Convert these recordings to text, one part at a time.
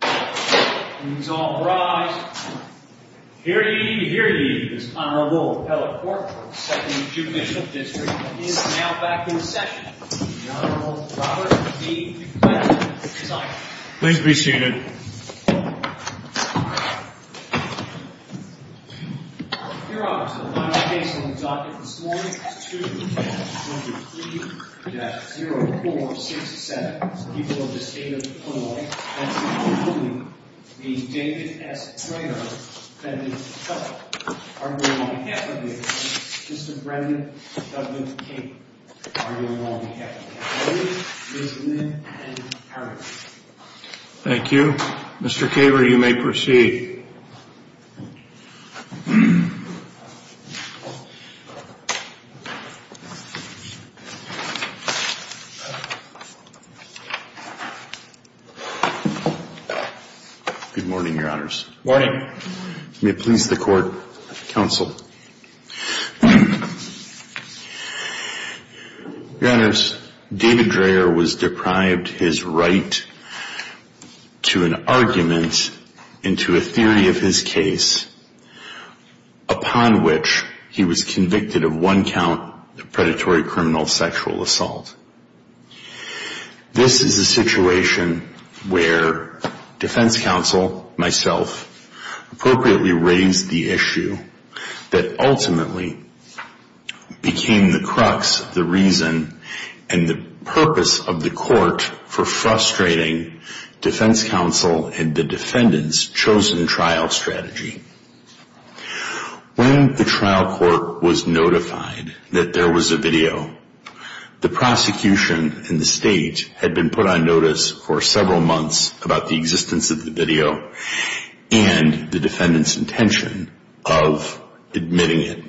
Welcome to Performance Study assignements, students all rise. Here he is, honorable Appellate Court, 2nd Judicial District is now back in session. Please be seated. You would be honored to the final face on the podium is David S. Traynor, Defendant's Cousin. On behalf of the Appellate Court, Mr. Brendan W. Caver. On behalf of the Appellate Court, Ms. Lynn Ann Harris. Thank you. Mr. Caver, you may proceed. Good morning, your honors. Morning. May it please the court, counsel. Your honors, David Traynor was deprived his right to an argument into a theory of his case upon which he was convicted of one count of predatory criminal sexual assault. This is a situation where defense counsel, myself, appropriately raised the issue that ultimately became the crux of the reason and the purpose of the court for frustrating defense counsel and the defendant's chosen trial strategy. When the trial court was notified that there was a video, the prosecution and the state had been put on notice for several months about the existence of the video and the defendant's intention of admitting it.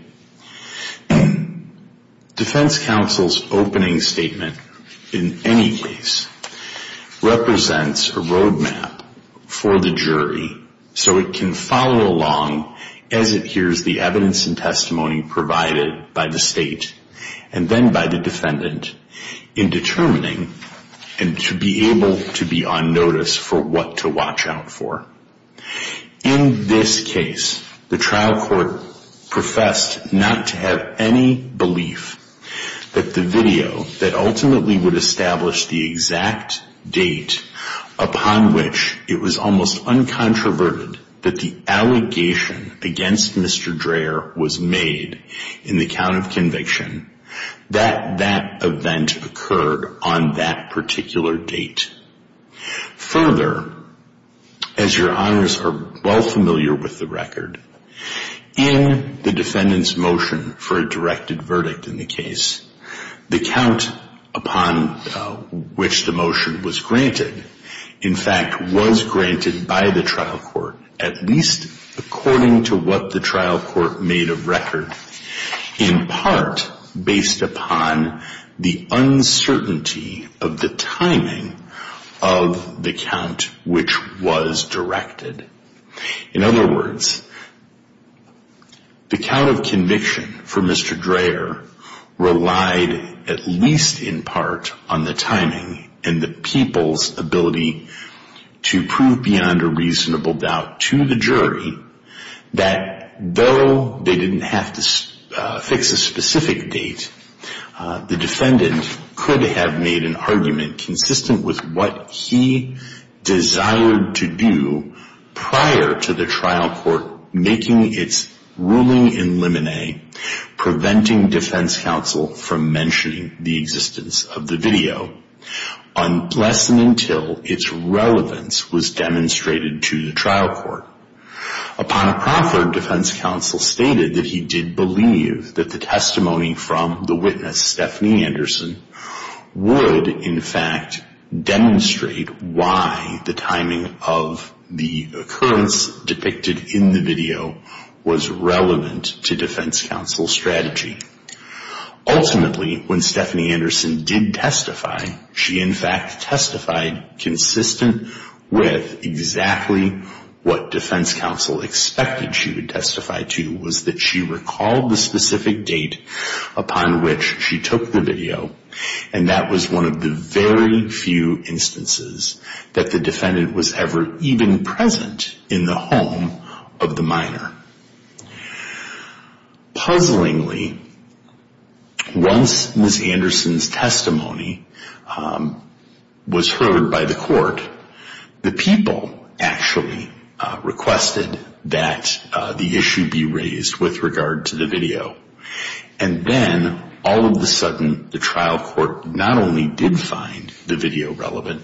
Defense counsel's opening statement in any case represents a roadmap for the jury so it can follow along as it hears the evidence and testimony provided by the state and then by the defendant in determining and to be able to be on notice for what to watch out for. In this case, the trial court professed not to have any belief that the video that ultimately would establish the exact date upon which it was almost uncontroverted that the allegation against Mr. Dreher was made in the count of conviction that that event occurred on that particular date. Further, as your honors are well familiar with the record, in the defendant's motion for a directed verdict in the case, the count upon which the motion was granted in fact was granted by the trial court at least according to what the trial court made of record in part based upon the uncertainty of the timing of the count which was directed. In other words, the count of conviction for Mr. Dreher relied at least in part on the timing and the people's ability to prove beyond a reasonable doubt to the jury that though they didn't have to fix a specific date, the defendant could have made an argument consistent with what he desired to do prior to the trial court making its ruling in limine preventing defense counsel from mentioning the existence of the video, unless and until its relevance was demonstrated to the trial court. Upon a proffer, defense counsel stated that he did believe that the testimony from the witness, Stephanie Anderson, would in fact demonstrate why the timing of the occurrence depicted in the video was relevant to defense counsel's strategy. Ultimately, when Stephanie Anderson did testify, she in fact testified consistent with exactly what defense counsel expected she would testify to was that she recalled the specific date upon which she took the video and that was one of the very few instances that the defendant was ever even present in the home of the minor. Puzzlingly, once Ms. Anderson's testimony was heard by the court, the people actually requested that the issue be raised with regard to the video and then all of a sudden the trial court not only did find the video relevant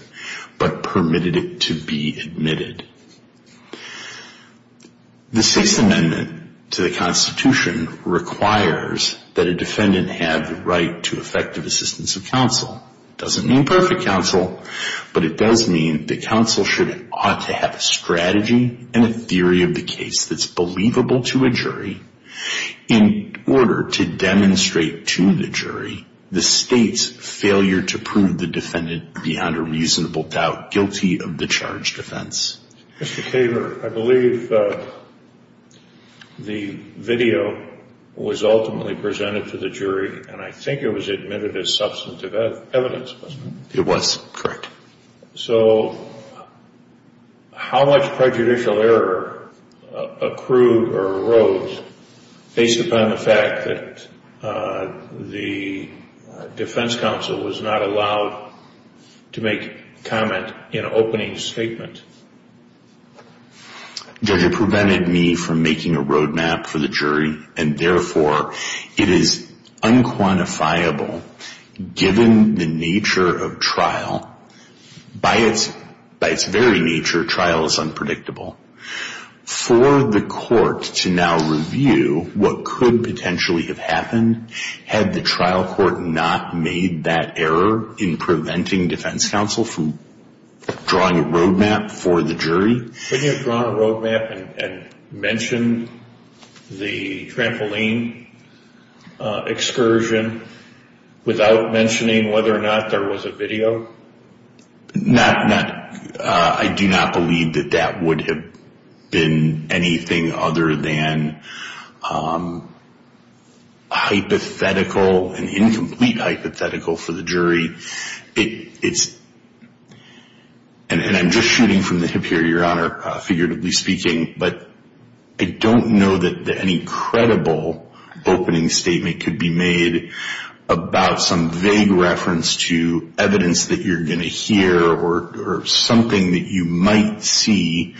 but permitted it to be admitted. The Sixth Amendment to the Constitution requires that a defendant have the right to effective assistance of counsel. It doesn't mean perfect counsel, but it does mean that counsel should ought to have a strategy and a theory of the case that's believable to a jury. In order to demonstrate to the jury the state's failure to prove the defendant beyond a reasonable doubt guilty of the charged offense. Mr. Kaler, I believe the video was ultimately presented to the jury and I think it was admitted as substantive evidence, wasn't it? It was, correct. So how much prejudicial error accrued or arose based upon the fact that the defense counsel was not allowed to make comment in opening statement? Judge, it prevented me from making a road map for the jury and therefore it is unquantifiable given the nature of trial. By its very nature, trial is unpredictable. For the court to now review what could potentially have happened had the trial court not made that error in preventing defense counsel from drawing a road map for the jury. Could you have drawn a road map and mentioned the trampoline excursion without mentioning whether or not there was a video? I do not believe that that would have been anything other than hypothetical and incomplete hypothetical for the jury. And I'm just shooting from the hip here, Your Honor, figuratively speaking, but I don't know that any credible opening statement could be made about some vague reference to evidence that you're going to hear or something that you might see.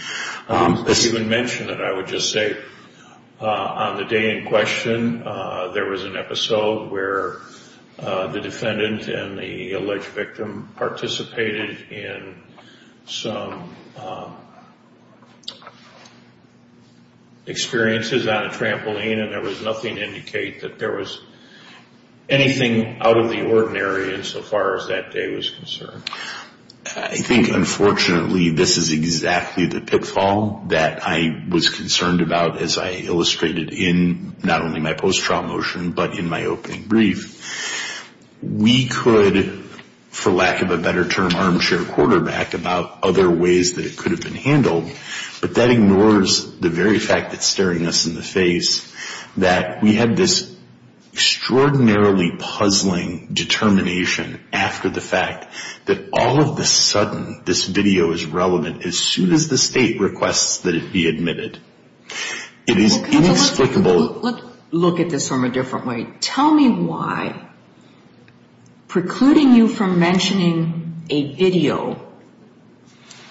You didn't mention it. I would just say on the day in question, there was an episode where the defendant and the alleged victim participated in some experiences on a trampoline and there was nothing to indicate that there was anything out of the ordinary insofar as that day was concerned. I think, unfortunately, this is exactly the pitfall that I was concerned about as I illustrated in not only my post-trial motion but in my opening brief. We could, for lack of a better term, armchair quarterback about other ways that it could have been handled, but that ignores the very fact that's staring us in the face that we had this extraordinarily puzzling determination after the fact that all of a sudden this video is relevant as soon as the State requests that it be admitted. It is inexplicable. Let's look at this from a different way. Tell me why precluding you from mentioning a video,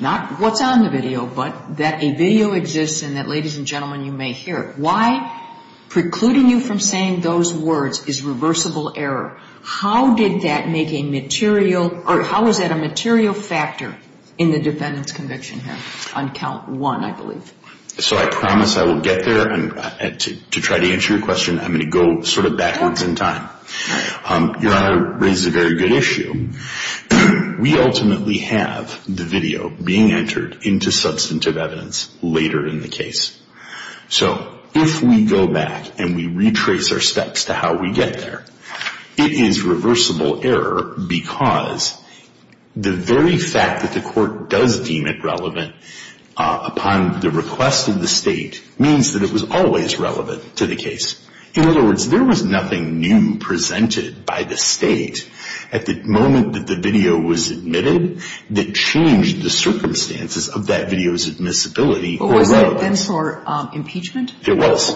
not what's on the video but that a video exists and that, ladies and gentlemen, you may hear it, why precluding you from saying those words is reversible error? How did that make a material or how is that a material factor in the defendant's conviction here on count one, I believe? So I promise I will get there and to try to answer your question, I'm going to go sort of backwards in time. Your Honor raises a very good issue. We ultimately have the video being entered into substantive evidence later in the case. So if we go back and we retrace our steps to how we get there, it is reversible error because the very fact that the court does deem it relevant upon the request of the State means that it was always relevant to the case. In other words, there was nothing new presented by the State at the moment that the video was admitted that changed the circumstances of that video's admissibility or relevance. But wasn't it then for impeachment? It was.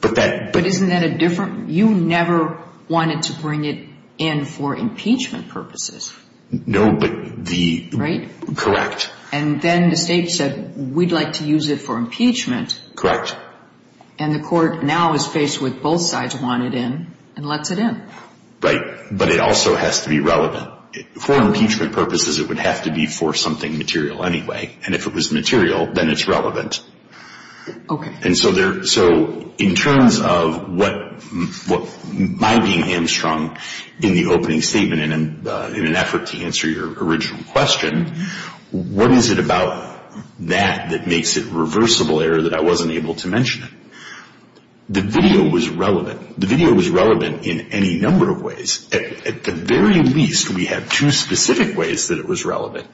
But isn't that a different? You never wanted to bring it in for impeachment purposes. No, but the- Correct. And then the State said we'd like to use it for impeachment. Correct. And the court now is faced with both sides want it in and lets it in. Right. But it also has to be relevant. For impeachment purposes, it would have to be for something material anyway. And if it was material, then it's relevant. Okay. And so in terms of my being hamstrung in the opening statement in an effort to answer your original question, what is it about that that makes it reversible error that I wasn't able to mention it? The video was relevant. The video was relevant in any number of ways. At the very least, we have two specific ways that it was relevant.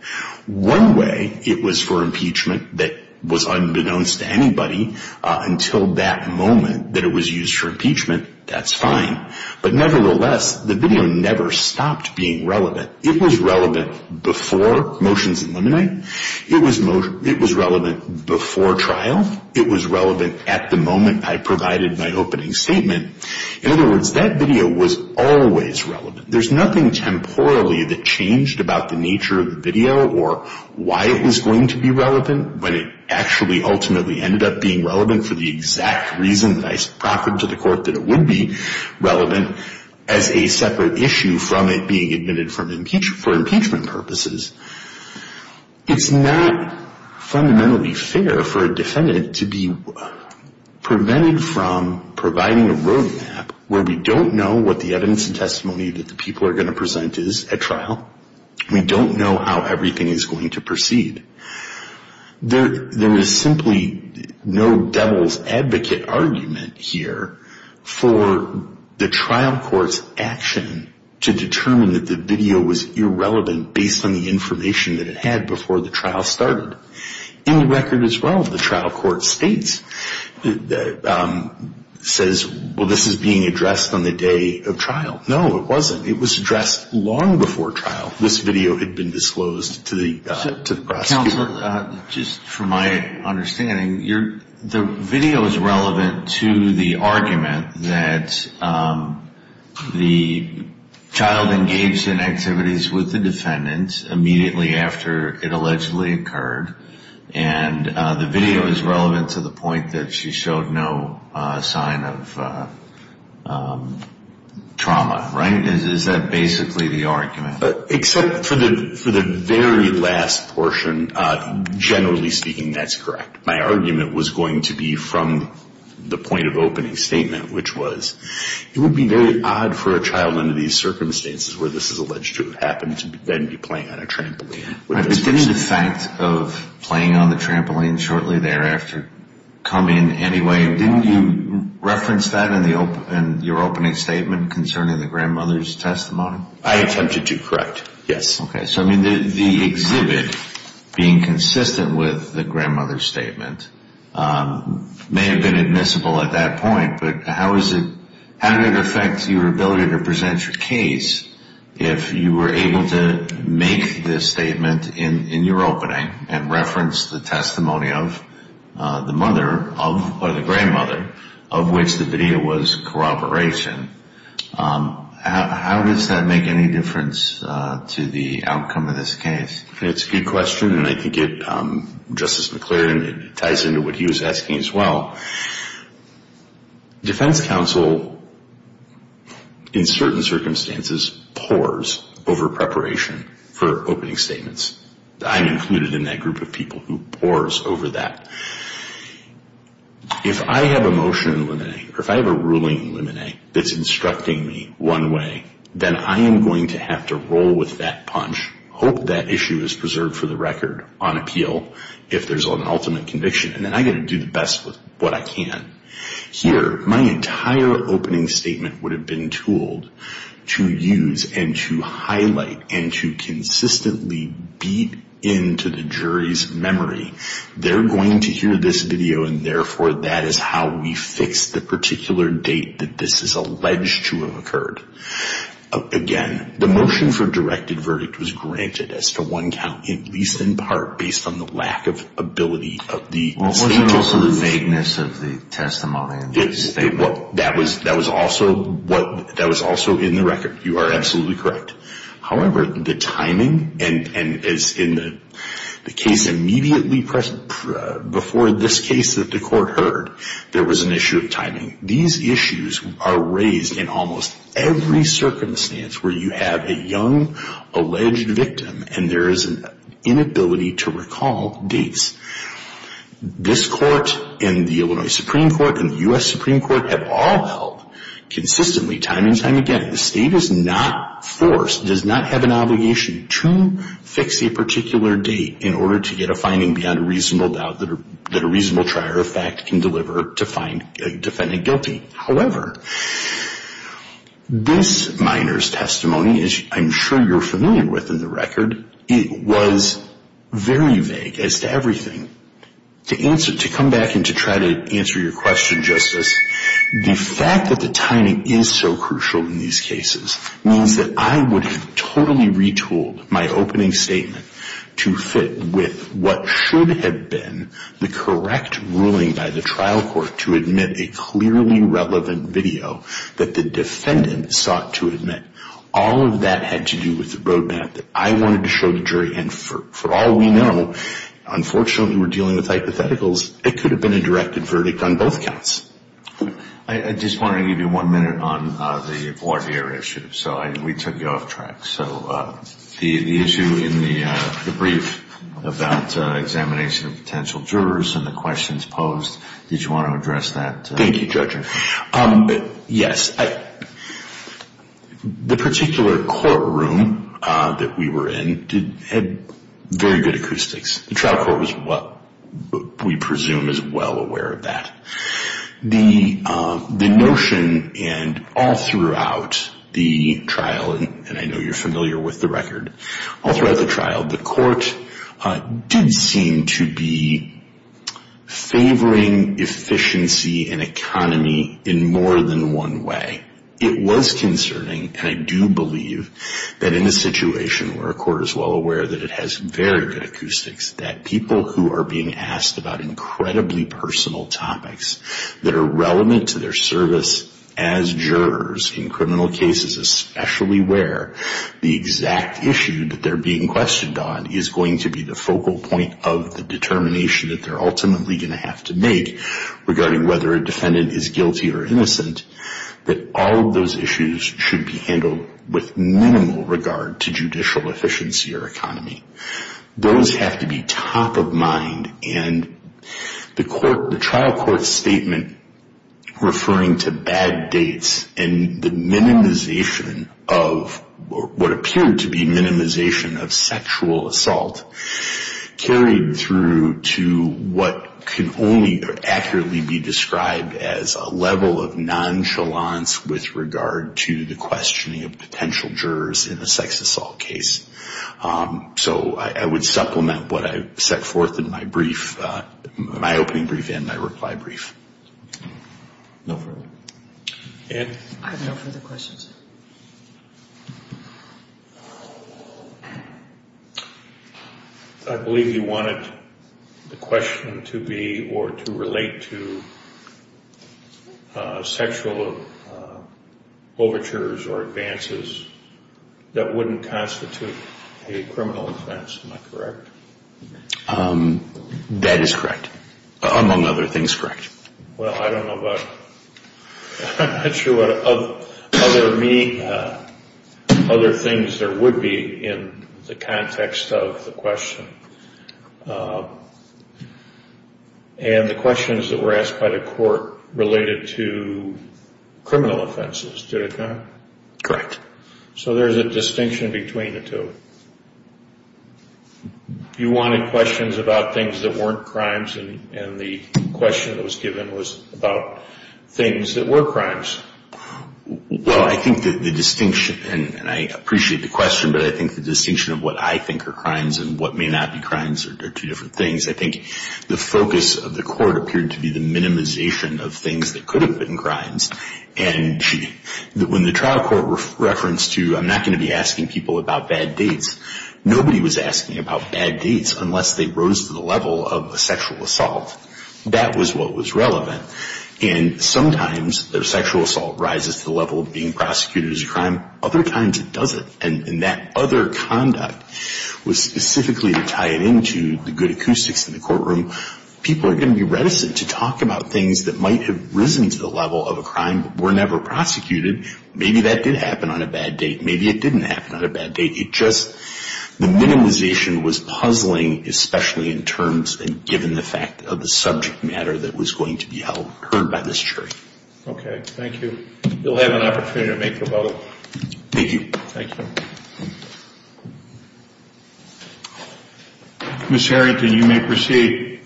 One way, it was for impeachment that was unbeknownst to anybody until that moment that it was used for impeachment. That's fine. But nevertheless, the video never stopped being relevant. It was relevant before motions eliminate. It was relevant before trial. It was relevant at the moment I provided my opening statement. In other words, that video was always relevant. There's nothing temporally that changed about the nature of the video or why it was going to be relevant when it actually ultimately ended up being relevant for the exact reason that I sprocketed to the court that it would be relevant as a separate issue from it being admitted for impeachment purposes. It's not fundamentally fair for a defendant to be prevented from providing a roadmap where we don't know what the evidence and testimony that the people are going to present is at trial. We don't know how everything is going to proceed. There is simply no devil's advocate argument here for the trial court's action to determine that the video was irrelevant based on the information that it had before the trial started. In the record as well, the trial court states, says, well, this is being addressed on the day of trial. No, it wasn't. It was addressed long before trial. This video had been disclosed to the prosecutor. Counselor, just from my understanding, the video is relevant to the argument that the child engaged in activities with the defendants immediately after it allegedly occurred, and the video is relevant to the point that she showed no sign of trauma, right? Is that basically the argument? Except for the very last portion, generally speaking, that's correct. My argument was going to be from the point of opening statement, which was it would be very odd for a child under these circumstances where this is alleged to have happened to then be playing on a trampoline. But didn't the fact of playing on the trampoline shortly thereafter come in anyway? Didn't you reference that in your opening statement concerning the grandmother's testimony? I attempted to, correct, yes. Okay. So, I mean, the exhibit being consistent with the grandmother's statement may have been admissible at that point, but how did it affect your ability to present your case if you were able to make this statement in your opening and reference the testimony of the mother or the grandmother of which the video was corroboration? How does that make any difference to the outcome of this case? It's a good question, and I think it, Justice McClaren, it ties into what he was asking as well. Defense counsel, in certain circumstances, pours over preparation for opening statements. I'm included in that group of people who pours over that. If I have a motion in limine, or if I have a ruling in limine that's instructing me one way, then I am going to have to roll with that punch, hope that issue is preserved for the record on appeal if there's an ultimate conviction, and then I'm going to do the best with what I can. Here, my entire opening statement would have been tooled to use and to highlight and to consistently beat into the jury's memory. They're going to hear this video, and therefore, that is how we fix the particular date that this is alleged to have occurred. Again, the motion for directed verdict was granted as to one count, at least in part based on the lack of ability of the state testimony. What was also the vagueness of the testimony and the statement? That was also in the record. You are absolutely correct. However, the timing, and as in the case immediately before this case that the court heard, there was an issue of timing. These issues are raised in almost every circumstance where you have a young alleged victim and there is an inability to recall dates. This court and the Illinois Supreme Court and the U.S. Supreme Court have all held consistently time and time again, the state is not forced, does not have an obligation to fix a particular date in order to get a finding beyond a reasonable doubt that a reasonable trier of fact can deliver to find a defendant guilty. However, this minor's testimony, as I'm sure you're familiar with in the record, it was very vague as to everything. To come back and to try to answer your question, Justice, the fact that the timing is so crucial in these cases means that I would have totally retooled my opening statement to fit with what should have been the correct ruling by the trial court to admit a clearly relevant video that the defendant sought to admit. All of that had to do with the roadmap that I wanted to show the jury, and for all we know, unfortunately we're dealing with hypotheticals, it could have been a directed verdict on both counts. I just want to give you one minute on the voir dire issue, so we took you off track. So the issue in the brief about examination of potential jurors and the questions posed, did you want to address that? Thank you, Judge. Yes, the particular courtroom that we were in had very good acoustics. The trial court was what we presume is well aware of that. The notion, and all throughout the trial, and I know you're familiar with the record, all throughout the trial, the court did seem to be favoring efficiency and economy in more than one way. It was concerning, and I do believe that in a situation where a court is well aware that it has very good acoustics, that people who are being asked about incredibly personal topics that are relevant to their service as jurors in criminal cases, especially where the exact issue that they're being questioned on is going to be the focal point of the determination that they're ultimately going to have to make regarding whether a defendant is guilty or innocent, that all of those issues should be handled with minimal regard to judicial efficiency or economy. Those have to be top of mind, and the trial court statement referring to bad dates and the minimization of what appeared to be minimization of sexual assault carried through to what can only accurately be described as a level of nonchalance with regard to the questioning of potential jurors in a sex assault case. So I would supplement what I set forth in my brief, my opening brief and my reply brief. No further? I have no further questions. I believe you wanted the question to be or to relate to sexual overtures or advances that wouldn't constitute a criminal offense, am I correct? That is correct, among other things, correct. Well, I don't know about, I'm not sure what other things there would be in the context of the question. And the questions that were asked by the court related to criminal offenses, did it not? Correct. So there's a distinction between the two? You wanted questions about things that weren't crimes, and the question that was given was about things that were crimes. Well, I think that the distinction, and I appreciate the question, but I think the distinction of what I think are crimes and what may not be crimes are two different things. I think the focus of the court appeared to be the minimization of things that could have been crimes, and when the trial court referenced to I'm not going to be asking people about bad dates, nobody was asking about bad dates unless they rose to the level of a sexual assault. That was what was relevant. And sometimes their sexual assault rises to the level of being prosecuted as a crime. Other times it doesn't. And that other conduct was specifically tied into the good acoustics in the courtroom. People are going to be reticent to talk about things that might have risen to the level of a crime but were never prosecuted. Maybe that did happen on a bad date. Maybe it didn't happen on a bad date. The minimization was puzzling, especially in terms and given the fact of the subject matter that was going to be heard by this jury. Okay. Thank you. You'll have an opportunity to make your vote. Thank you. Thank you. Ms. Harrington, you may proceed.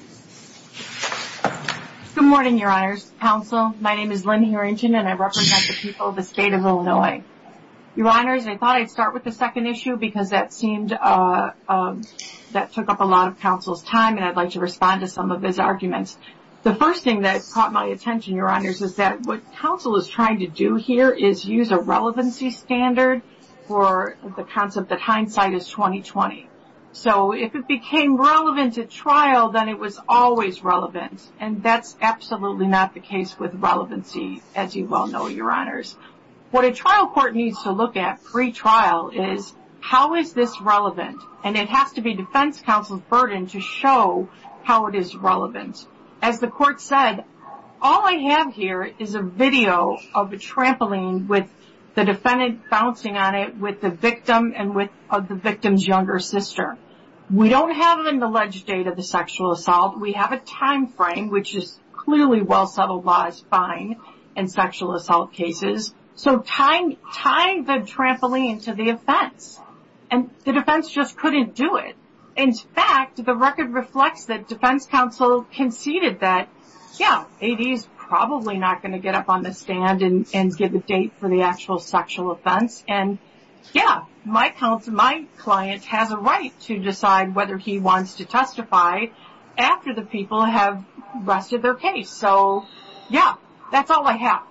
Good morning, Your Honors. Counsel, my name is Lynn Harrington, and I represent the people of the state of Illinois. Your Honors, I thought I'd start with the second issue because that seemed that took up a lot of counsel's time, and I'd like to respond to some of his arguments. The first thing that caught my attention, Your Honors, is that what counsel is trying to do here is use a relevancy standard for the concept that hindsight is 20-20. So if it became relevant at trial, then it was always relevant. And that's absolutely not the case with relevancy, as you well know, Your Honors. What a trial court needs to look at pre-trial is how is this relevant, and it has to be defense counsel's burden to show how it is relevant. As the court said, all I have here is a video of a trampoline with the defendant bouncing on it with the victim and the victim's younger sister. We don't have an alleged date of the sexual assault. We have a time frame, which is clearly well-settled law is fine in sexual assault cases. So tying the trampoline to the offense, and the defense just couldn't do it. In fact, the record reflects that defense counsel conceded that, yeah, AD is probably not going to get up on the stand and give a date for the actual sexual offense. And, yeah, my client has a right to decide whether he wants to testify after the people have rested their case. So, yeah, that's all I have.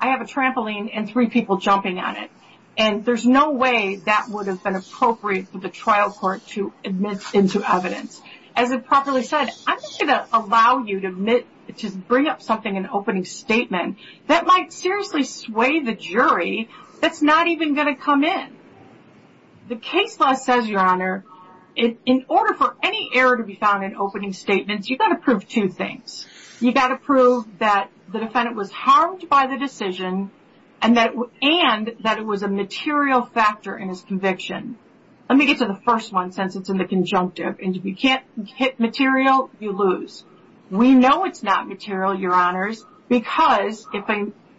I have a trampoline and three people jumping on it. And there's no way that would have been appropriate for the trial court to admit into evidence. As I properly said, I'm not going to allow you to bring up something in an opening statement that might seriously sway the jury that's not even going to come in. The case law says, Your Honor, in order for any error to be found in opening statements, you've got to prove two things. You've got to prove that the defendant was harmed by the decision and that it was a material factor in his conviction. Let me get to the first one since it's in the conjunctive. And if you can't hit material, you lose. We know it's not material, Your Honors, because, if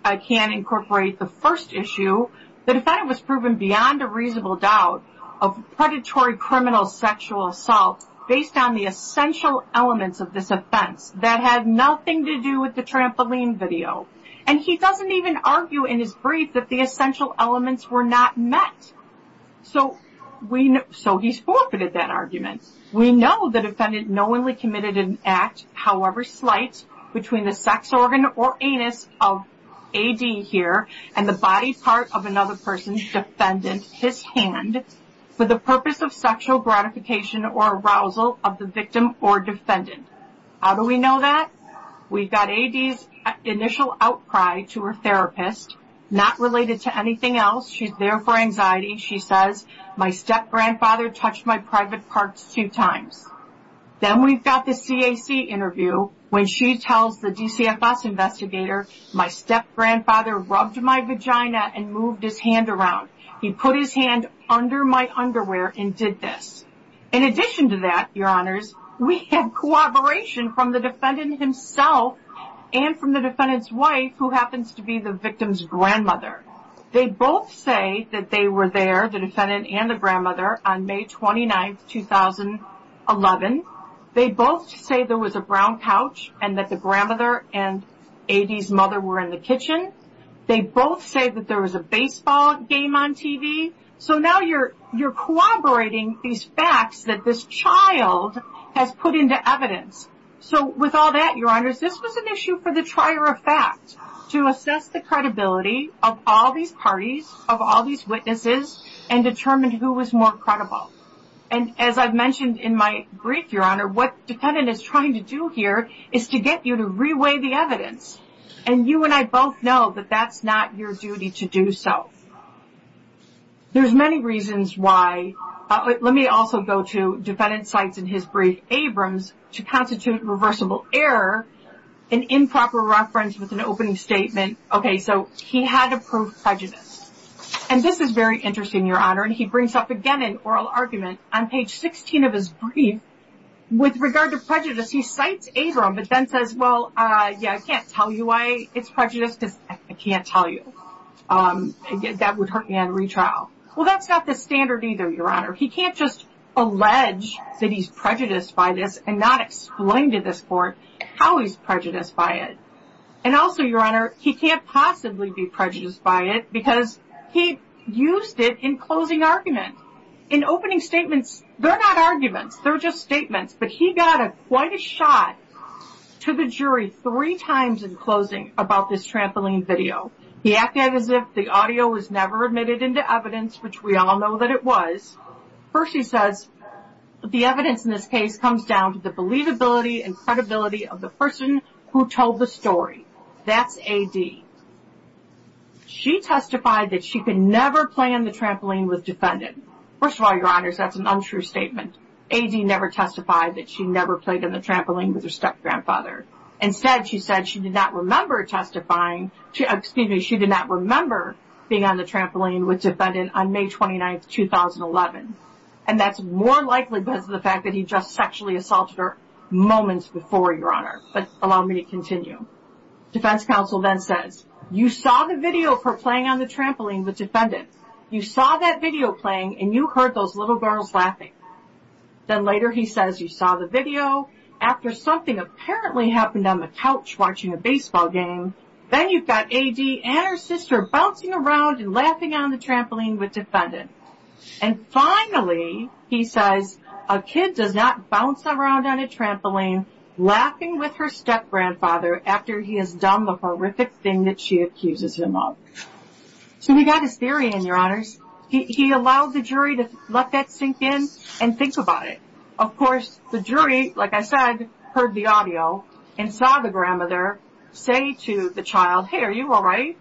I can incorporate the first issue, the defendant was proven beyond a reasonable doubt of predatory criminal sexual assault based on the essential elements of this offense that had nothing to do with the trampoline video. And he doesn't even argue in his brief that the essential elements were not met. So he's forfeited that argument. We know the defendant knowingly committed an act, however slight, between the sex organ or anus of A.D. here and the body part of another person's defendant, his hand, for the purpose of sexual gratification or arousal of the victim or defendant. How do we know that? We've got A.D.'s initial outcry to her therapist, not related to anything else. She's there for anxiety. She says, my step-grandfather touched my private parts two times. Then we've got the CAC interview when she tells the DCFS investigator, my step-grandfather rubbed my vagina and moved his hand around. He put his hand under my underwear and did this. In addition to that, Your Honors, we have cooperation from the defendant himself and from the defendant's wife, who happens to be the victim's grandmother. They both say that they were there, the defendant and the grandmother, on May 29, 2011. They both say there was a brown couch and that the grandmother and A.D.'s mother were in the kitchen. They both say that there was a baseball game on TV. So now you're corroborating these facts that this child has put into evidence. So with all that, Your Honors, this was an issue for the trier of facts, to assess the credibility of all these parties, of all these witnesses, and determine who was more credible. And as I've mentioned in my brief, Your Honor, what the defendant is trying to do here is to get you to reweigh the evidence. And you and I both know that that's not your duty to do so. There's many reasons why. Let me also go to defendant cites in his brief Abrams to constitute reversible error, an improper reference with an opening statement. Okay, so he had to prove prejudice. And this is very interesting, Your Honor. And he brings up again an oral argument on page 16 of his brief. With regard to prejudice, he cites Abrams, but then says, well, yeah, I can't tell you why it's prejudice because I can't tell you. That would hurt me on retrial. Well, that's not the standard either, Your Honor. He can't just allege that he's prejudiced by this and not explain to this court how he's prejudiced by it. And also, Your Honor, he can't possibly be prejudiced by it because he used it in closing argument. In opening statements, they're not arguments. They're just statements. But he got quite a shot to the jury three times in closing about this trampoline video. He acted as if the audio was never admitted into evidence, which we all know that it was. First, he says, the evidence in this case comes down to the believability and credibility of the person who told the story. That's A.D. She testified that she could never play on the trampoline with defendant. First of all, Your Honors, that's an untrue statement. A.D. never testified that she never played on the trampoline with her step-grandfather. Instead, she said she did not remember testifying. Excuse me, she did not remember being on the trampoline with defendant on May 29, 2011. And that's more likely because of the fact that he just sexually assaulted her moments before, Your Honor. But allow me to continue. Defense counsel then says, you saw the video of her playing on the trampoline with defendant. You saw that video playing, and you heard those little girls laughing. Then later he says, you saw the video after something apparently happened on the couch watching a baseball game. Then you've got A.D. and her sister bouncing around and laughing on the trampoline with defendant. And finally, he says, a kid does not bounce around on a trampoline laughing with her step-grandfather after he has done the horrific thing that she accuses him of. So we got his theory in, Your Honors. He allowed the jury to let that sink in and think about it. Of course, the jury, like I said, heard the audio and saw the grandmother say to the child, hey, are you all right?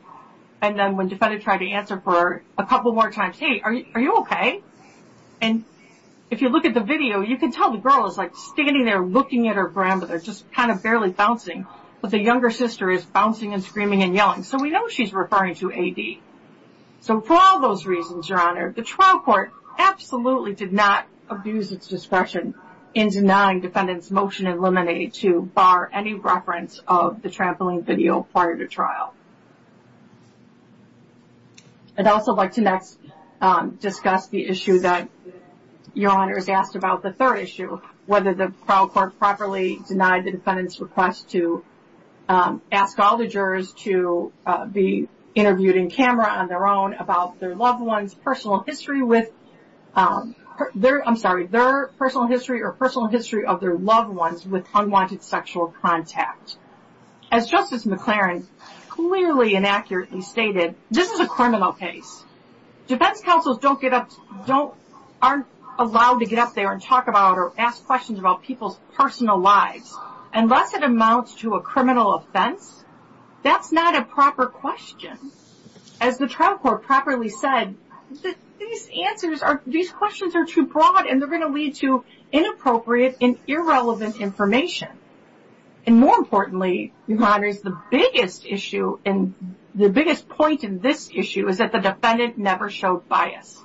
And then when defendant tried to answer for her a couple more times, hey, are you okay? And if you look at the video, you can tell the girl is like standing there looking at her grandmother, just kind of barely bouncing, but the younger sister is bouncing and screaming and yelling. So we know she's referring to A.D. So for all those reasons, Your Honor, the trial court absolutely did not abuse its discretion in denying defendant's motion in limine to bar any reference of the trampoline video prior to trial. I'd also like to next discuss the issue that Your Honors asked about, the third issue, whether the trial court properly denied the defendant's request to ask all the jurors to be interviewed in camera on their own about their loved one's personal history with, I'm sorry, their personal history or personal history of their loved ones with unwanted sexual contact. As Justice McLaren clearly and accurately stated, this is a criminal case. Defense counsels don't get up, aren't allowed to get up there and talk about or ask questions about people's personal lives unless it amounts to a criminal offense. That's not a proper question. As the trial court properly said, these answers, these questions are too broad and they're going to lead to inappropriate and irrelevant information. And more importantly, Your Honors, the biggest issue and the biggest point in this issue is that the defendant never showed bias.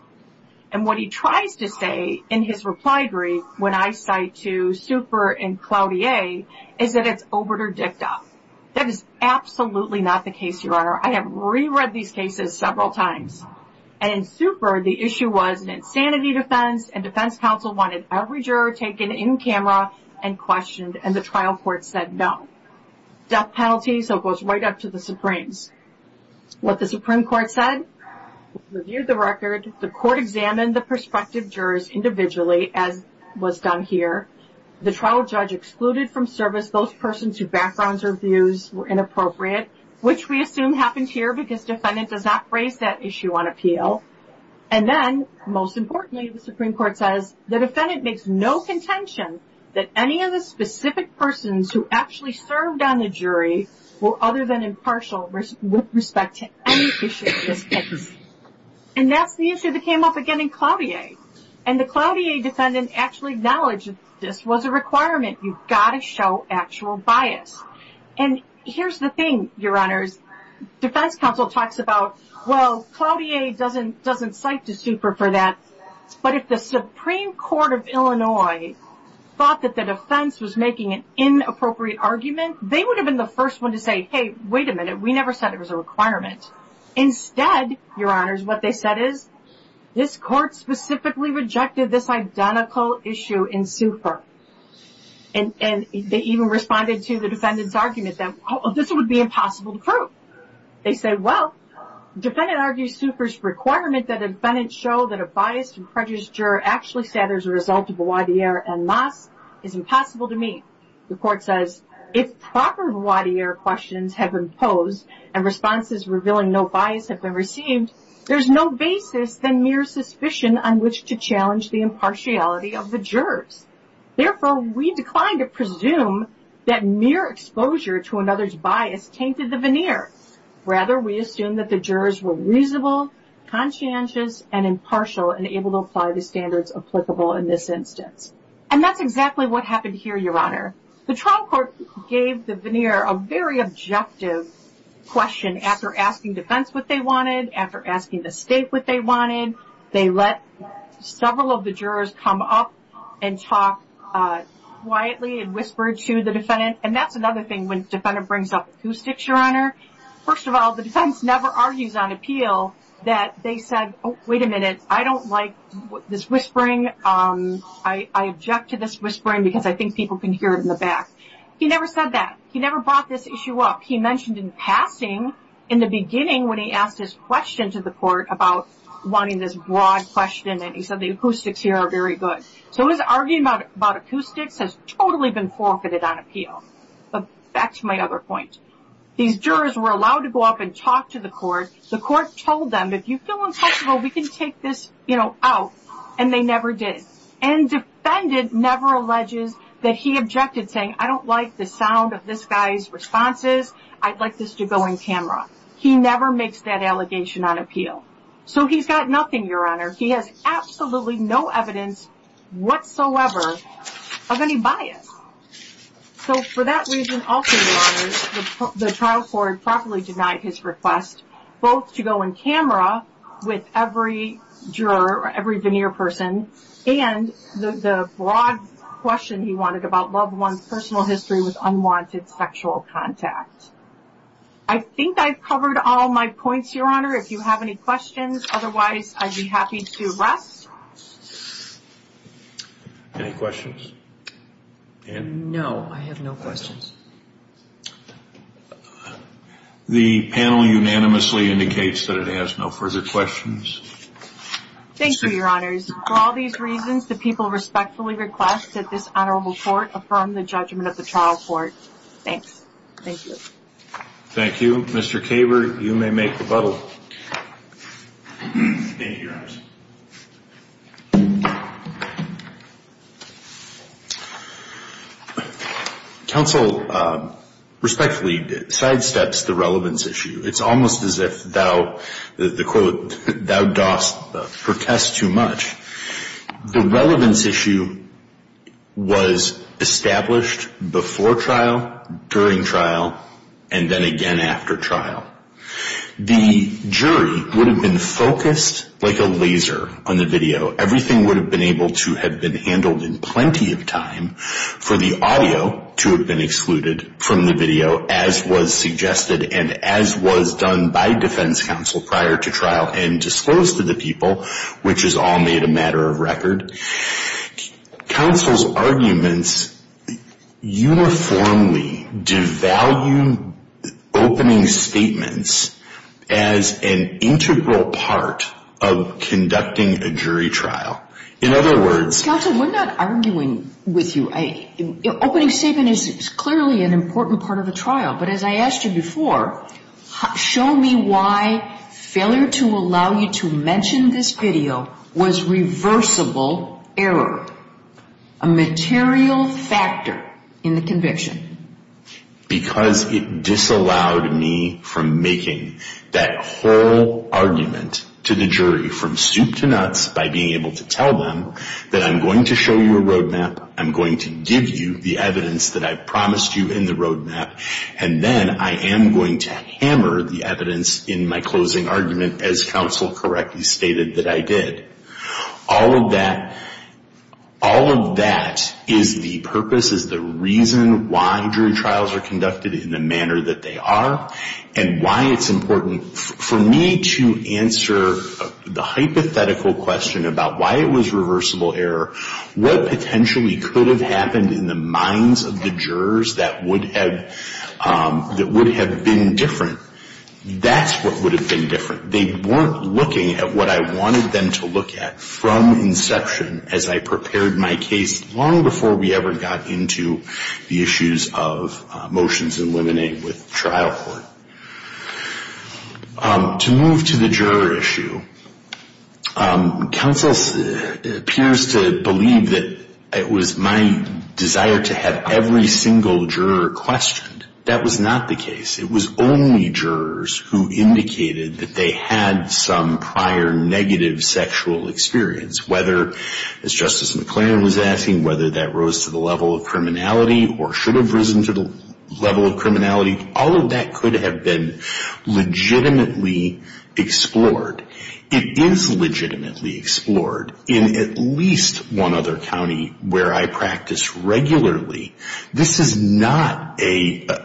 And what he tries to say in his reply brief when I cite to Super and Cloutier is that it's overt or dicta. That is absolutely not the case, Your Honor. I have re-read these cases several times. And in Super, the issue was an insanity defense and defense counsel wanted every juror taken in camera and questioned and the trial court said no. Death penalty, so it goes right up to the Supremes. What the Supreme Court said? Reviewed the record. The court examined the prospective jurors individually as was done here. The trial judge excluded from service those persons whose backgrounds or views were inappropriate, which we assume happened here because defendant does not raise that issue on appeal. And then, most importantly, the Supreme Court says, the defendant makes no contention that any of the specific persons who actually served on the jury were other than impartial with respect to any issue of this case. And that's the issue that came up again in Cloutier. And the Cloutier defendant actually acknowledged this was a requirement. You've got to show actual bias. And here's the thing, Your Honors. Defense counsel talks about, well, Cloutier doesn't cite to Super for that, but if the Supreme Court of Illinois thought that the defense was making an inappropriate argument, they would have been the first one to say, hey, wait a minute, we never said it was a requirement. Instead, Your Honors, what they said is, this court specifically rejected this identical issue in Super. And they even responded to the defendant's argument that, oh, this would be impossible to prove. They said, well, defendant argues Super's requirement that a defendant show that a biased and prejudiced juror actually said there's a result of the Cloutier en masse is impossible to meet. The court says, if proper Cloutier questions have been posed and responses revealing no bias have been received, there's no basis than mere suspicion on which to challenge the impartiality of the jurors. Therefore, we decline to presume that mere exposure to another's bias tainted the veneer. Rather, we assume that the jurors were reasonable, conscientious, and impartial and able to apply the standards applicable in this instance. And that's exactly what happened here, Your Honor. The trial court gave the veneer a very objective question after asking defense what they wanted, after asking the state what they wanted. They let several of the jurors come up and talk quietly and whisper to the defendant. And that's another thing when the defendant brings up acoustics, Your Honor. First of all, the defense never argues on appeal that they said, oh, wait a minute, I don't like this whispering. I object to this whispering because I think people can hear it in the back. He never said that. He never brought this issue up. He mentioned in passing in the beginning when he asked his question to the court about wanting this broad question and he said the acoustics here are very good. So his arguing about acoustics has totally been forfeited on appeal. But back to my other point. These jurors were allowed to go up and talk to the court. The court told them, if you feel uncomfortable, we can take this, you know, out. And they never did. And defendant never alleges that he objected, saying, I don't like the sound of this guy's responses. I'd like this to go on camera. He never makes that allegation on appeal. So he's got nothing, Your Honor. He has absolutely no evidence whatsoever of any bias. So for that reason also, Your Honor, the trial court properly denied his request, both to go on camera with every juror or every veneer person, and the broad question he wanted about loved one's personal history with unwanted sexual contact. I think I've covered all my points, Your Honor. If you have any questions, otherwise I'd be happy to rest. Any questions? No, I have no questions. The panel unanimously indicates that it has no further questions. Thank you, Your Honors. For all these reasons, the people respectfully request that this Honorable Court affirm the judgment of the trial court. Thanks. Thank you. Thank you. Mr. Kaber, you may make rebuttal. Thank you, Your Honors. Counsel, respectfully, sidesteps the relevance issue. It's almost as if thou, the quote, thou dost protest too much. The relevance issue was established before trial, during trial, and then again after trial. The jury would have been focused like a laser on the video. Everything would have been able to have been handled in plenty of time for the audio to have been excluded from the video as was suggested and as was done by defense counsel prior to trial and disclosed to the people, which is all made a matter of record. Counsel's arguments uniformly devalue opening statements as an integral part of conducting a jury trial. In other words, Counsel, we're not arguing with you. Opening statement is clearly an important part of a trial, but as I asked you before, show me why failure to allow you to mention this video was reversible error, a material factor in the conviction. Because it disallowed me from making that whole argument to the jury from soup to nuts by being able to tell them that I'm going to show you a roadmap, I'm going to give you the evidence that I promised you in the roadmap, and then I am going to hammer the evidence in my closing argument as Counsel correctly stated that I did. All of that is the purpose, is the reason why jury trials are conducted in the manner that they are and why it's important for me to answer the hypothetical question about why it was reversible error, what potentially could have happened in the minds of the jurors that would have been different. That's what would have been different. They weren't looking at what I wanted them to look at from inception as I prepared my case long before we ever got into the issues of motions and limiting with trial court. To move to the juror issue, Counsel appears to believe that it was my desire to have every single juror questioned. That was not the case. It was only jurors who indicated that they had some prior negative sexual experience, whether, as Justice McClaren was asking, whether that rose to the level of criminality or should have risen to the level of criminality. All of that could have been legitimately explored. It is legitimately explored in at least one other county where I practice regularly. This is not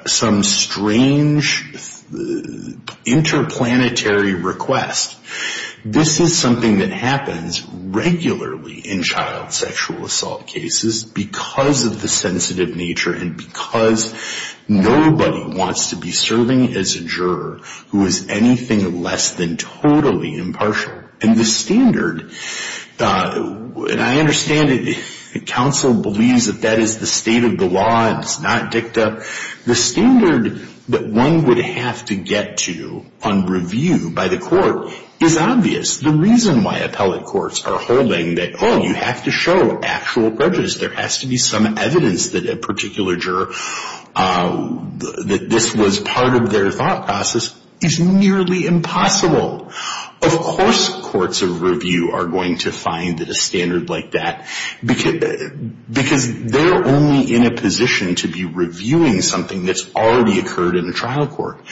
some strange interplanetary request. This is something that happens regularly in child sexual assault cases because of the sensitive nature and because nobody wants to be serving as a juror who is anything less than totally impartial. And the standard, and I understand it, Counsel believes that that is the state of the law and it's not dicta. The standard that one would have to get to on review by the court is obvious. The reason why appellate courts are holding that, oh, you have to show actual prejudice, there has to be some evidence that a particular juror, that this was part of their thought process, is nearly impossible. Of course courts of review are going to find a standard like that because they're only in a position to be reviewing something that's already occurred in a trial court.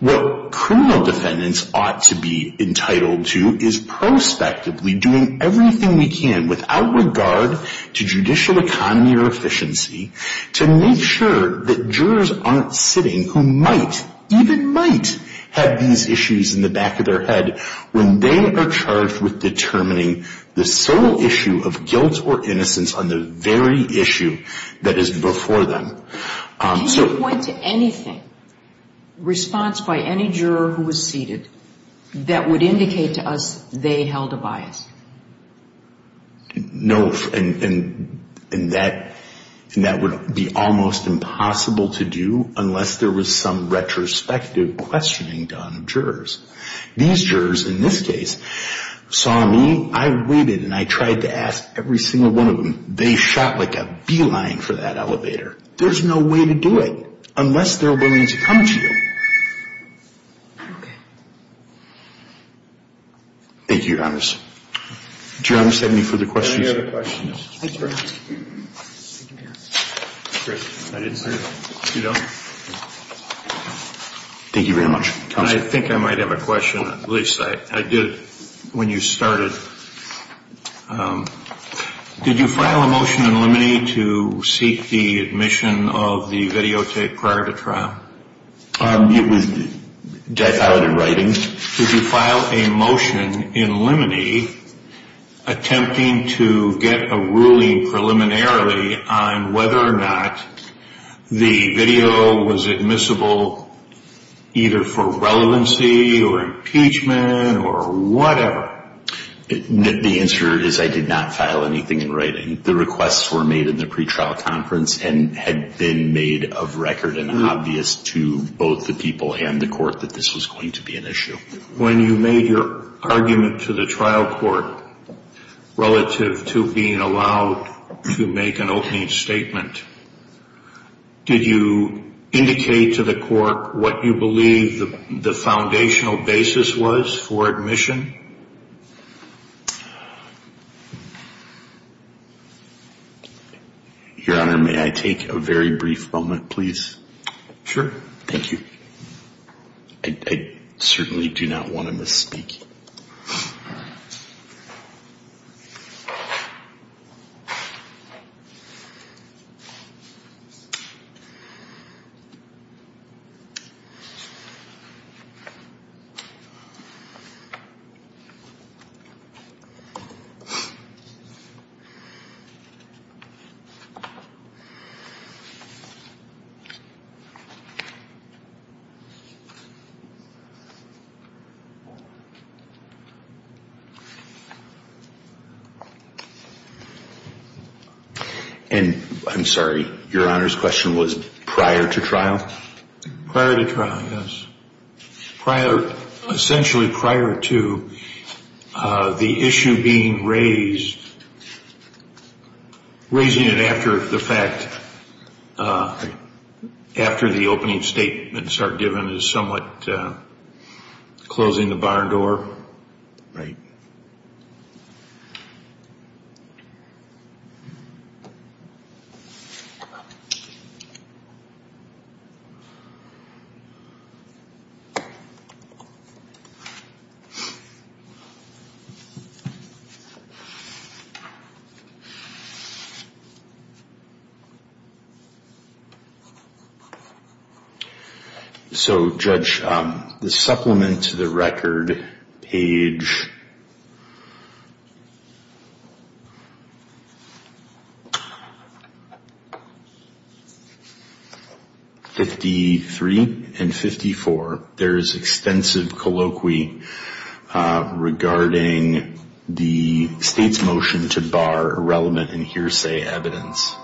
What criminal defendants ought to be entitled to is prospectively doing everything we can without regard to judicial economy or efficiency to make sure that jurors aren't sitting who might, even might, have these issues in the back of their head when they are charged with determining the sole issue of guilt or innocence on the very issue that is before them. Can you point to anything, response by any juror who was seated, that would indicate to us they held a bias? No, and that would be almost impossible to do unless there was some retrospective questioning done of jurors. These jurors, in this case, saw me, I waited and I tried to ask every single one of them. They shot like a beeline for that elevator. There's no way to do it unless they're willing to come to you. Okay. Thank you, Your Honors. Do you have any further questions? I do have a question. I didn't see it. You don't? Thank you very much. Counsel. I think I might have a question, at least I did when you started. Did you file a motion in limine to seek the admission of the videotape prior to trial? It was filed in writing. Did you file a motion in limine attempting to get a ruling preliminarily on whether or not the video was admissible either for relevancy or impeachment or whatever? The answer is I did not file anything in writing. The requests were made in the pretrial conference and had been made of record and obvious to both the people and the court that this was going to be an issue. When you made your argument to the trial court relative to being allowed to make an opening statement, did you indicate to the court what you believe the foundational basis was for admission? Your Honor, may I take a very brief moment, please? Sure. Thank you. I certainly do not want to misspeak. Thank you. Your Honor's question was prior to trial? Prior to trial, yes. Essentially prior to the issue being raised, raising it after the fact, after the opening statements are given is somewhat closing the bar door. Right. So, Judge, the supplement to the record page. 53 and 54, there is extensive colloquy regarding the state's motion to bar irrelevant and hearsay evidence.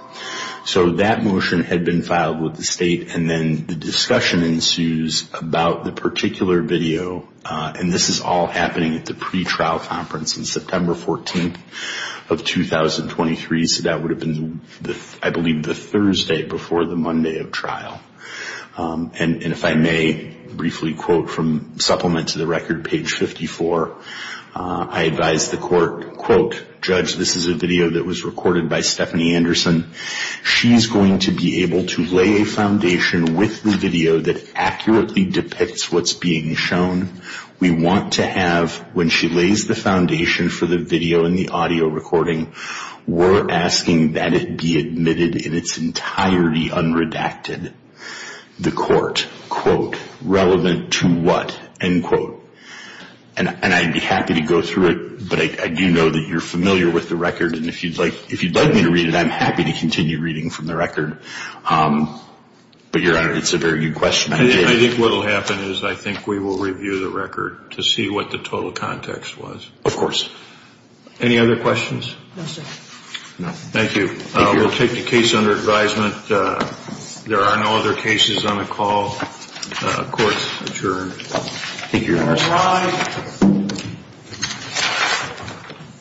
So that motion had been filed with the state, and then the discussion ensues about the particular video, and this is all happening at the pretrial conference on September 14th of 2023, so that would have been, I believe, the Thursday before the Monday of trial. And if I may briefly quote from supplement to the record, page 54, I advise the court, quote, Judge, this is a video that was recorded by Stephanie Anderson. She's going to be able to lay a foundation with the video that accurately depicts what's being shown. We want to have, when she lays the foundation for the video and the audio recording, we're asking that it be admitted in its entirety unredacted. The court, quote, relevant to what, end quote. And I'd be happy to go through it, but I do know that you're familiar with the record, and if you'd like me to read it, I'm happy to continue reading from the record. But, Your Honor, it's a very good question. I think what will happen is I think we will review the record to see what the total context was. Of course. Any other questions? No, sir. Thank you. We'll take the case under advisement. There are no other cases on the call. Court's adjourned. Thank you, Your Honor.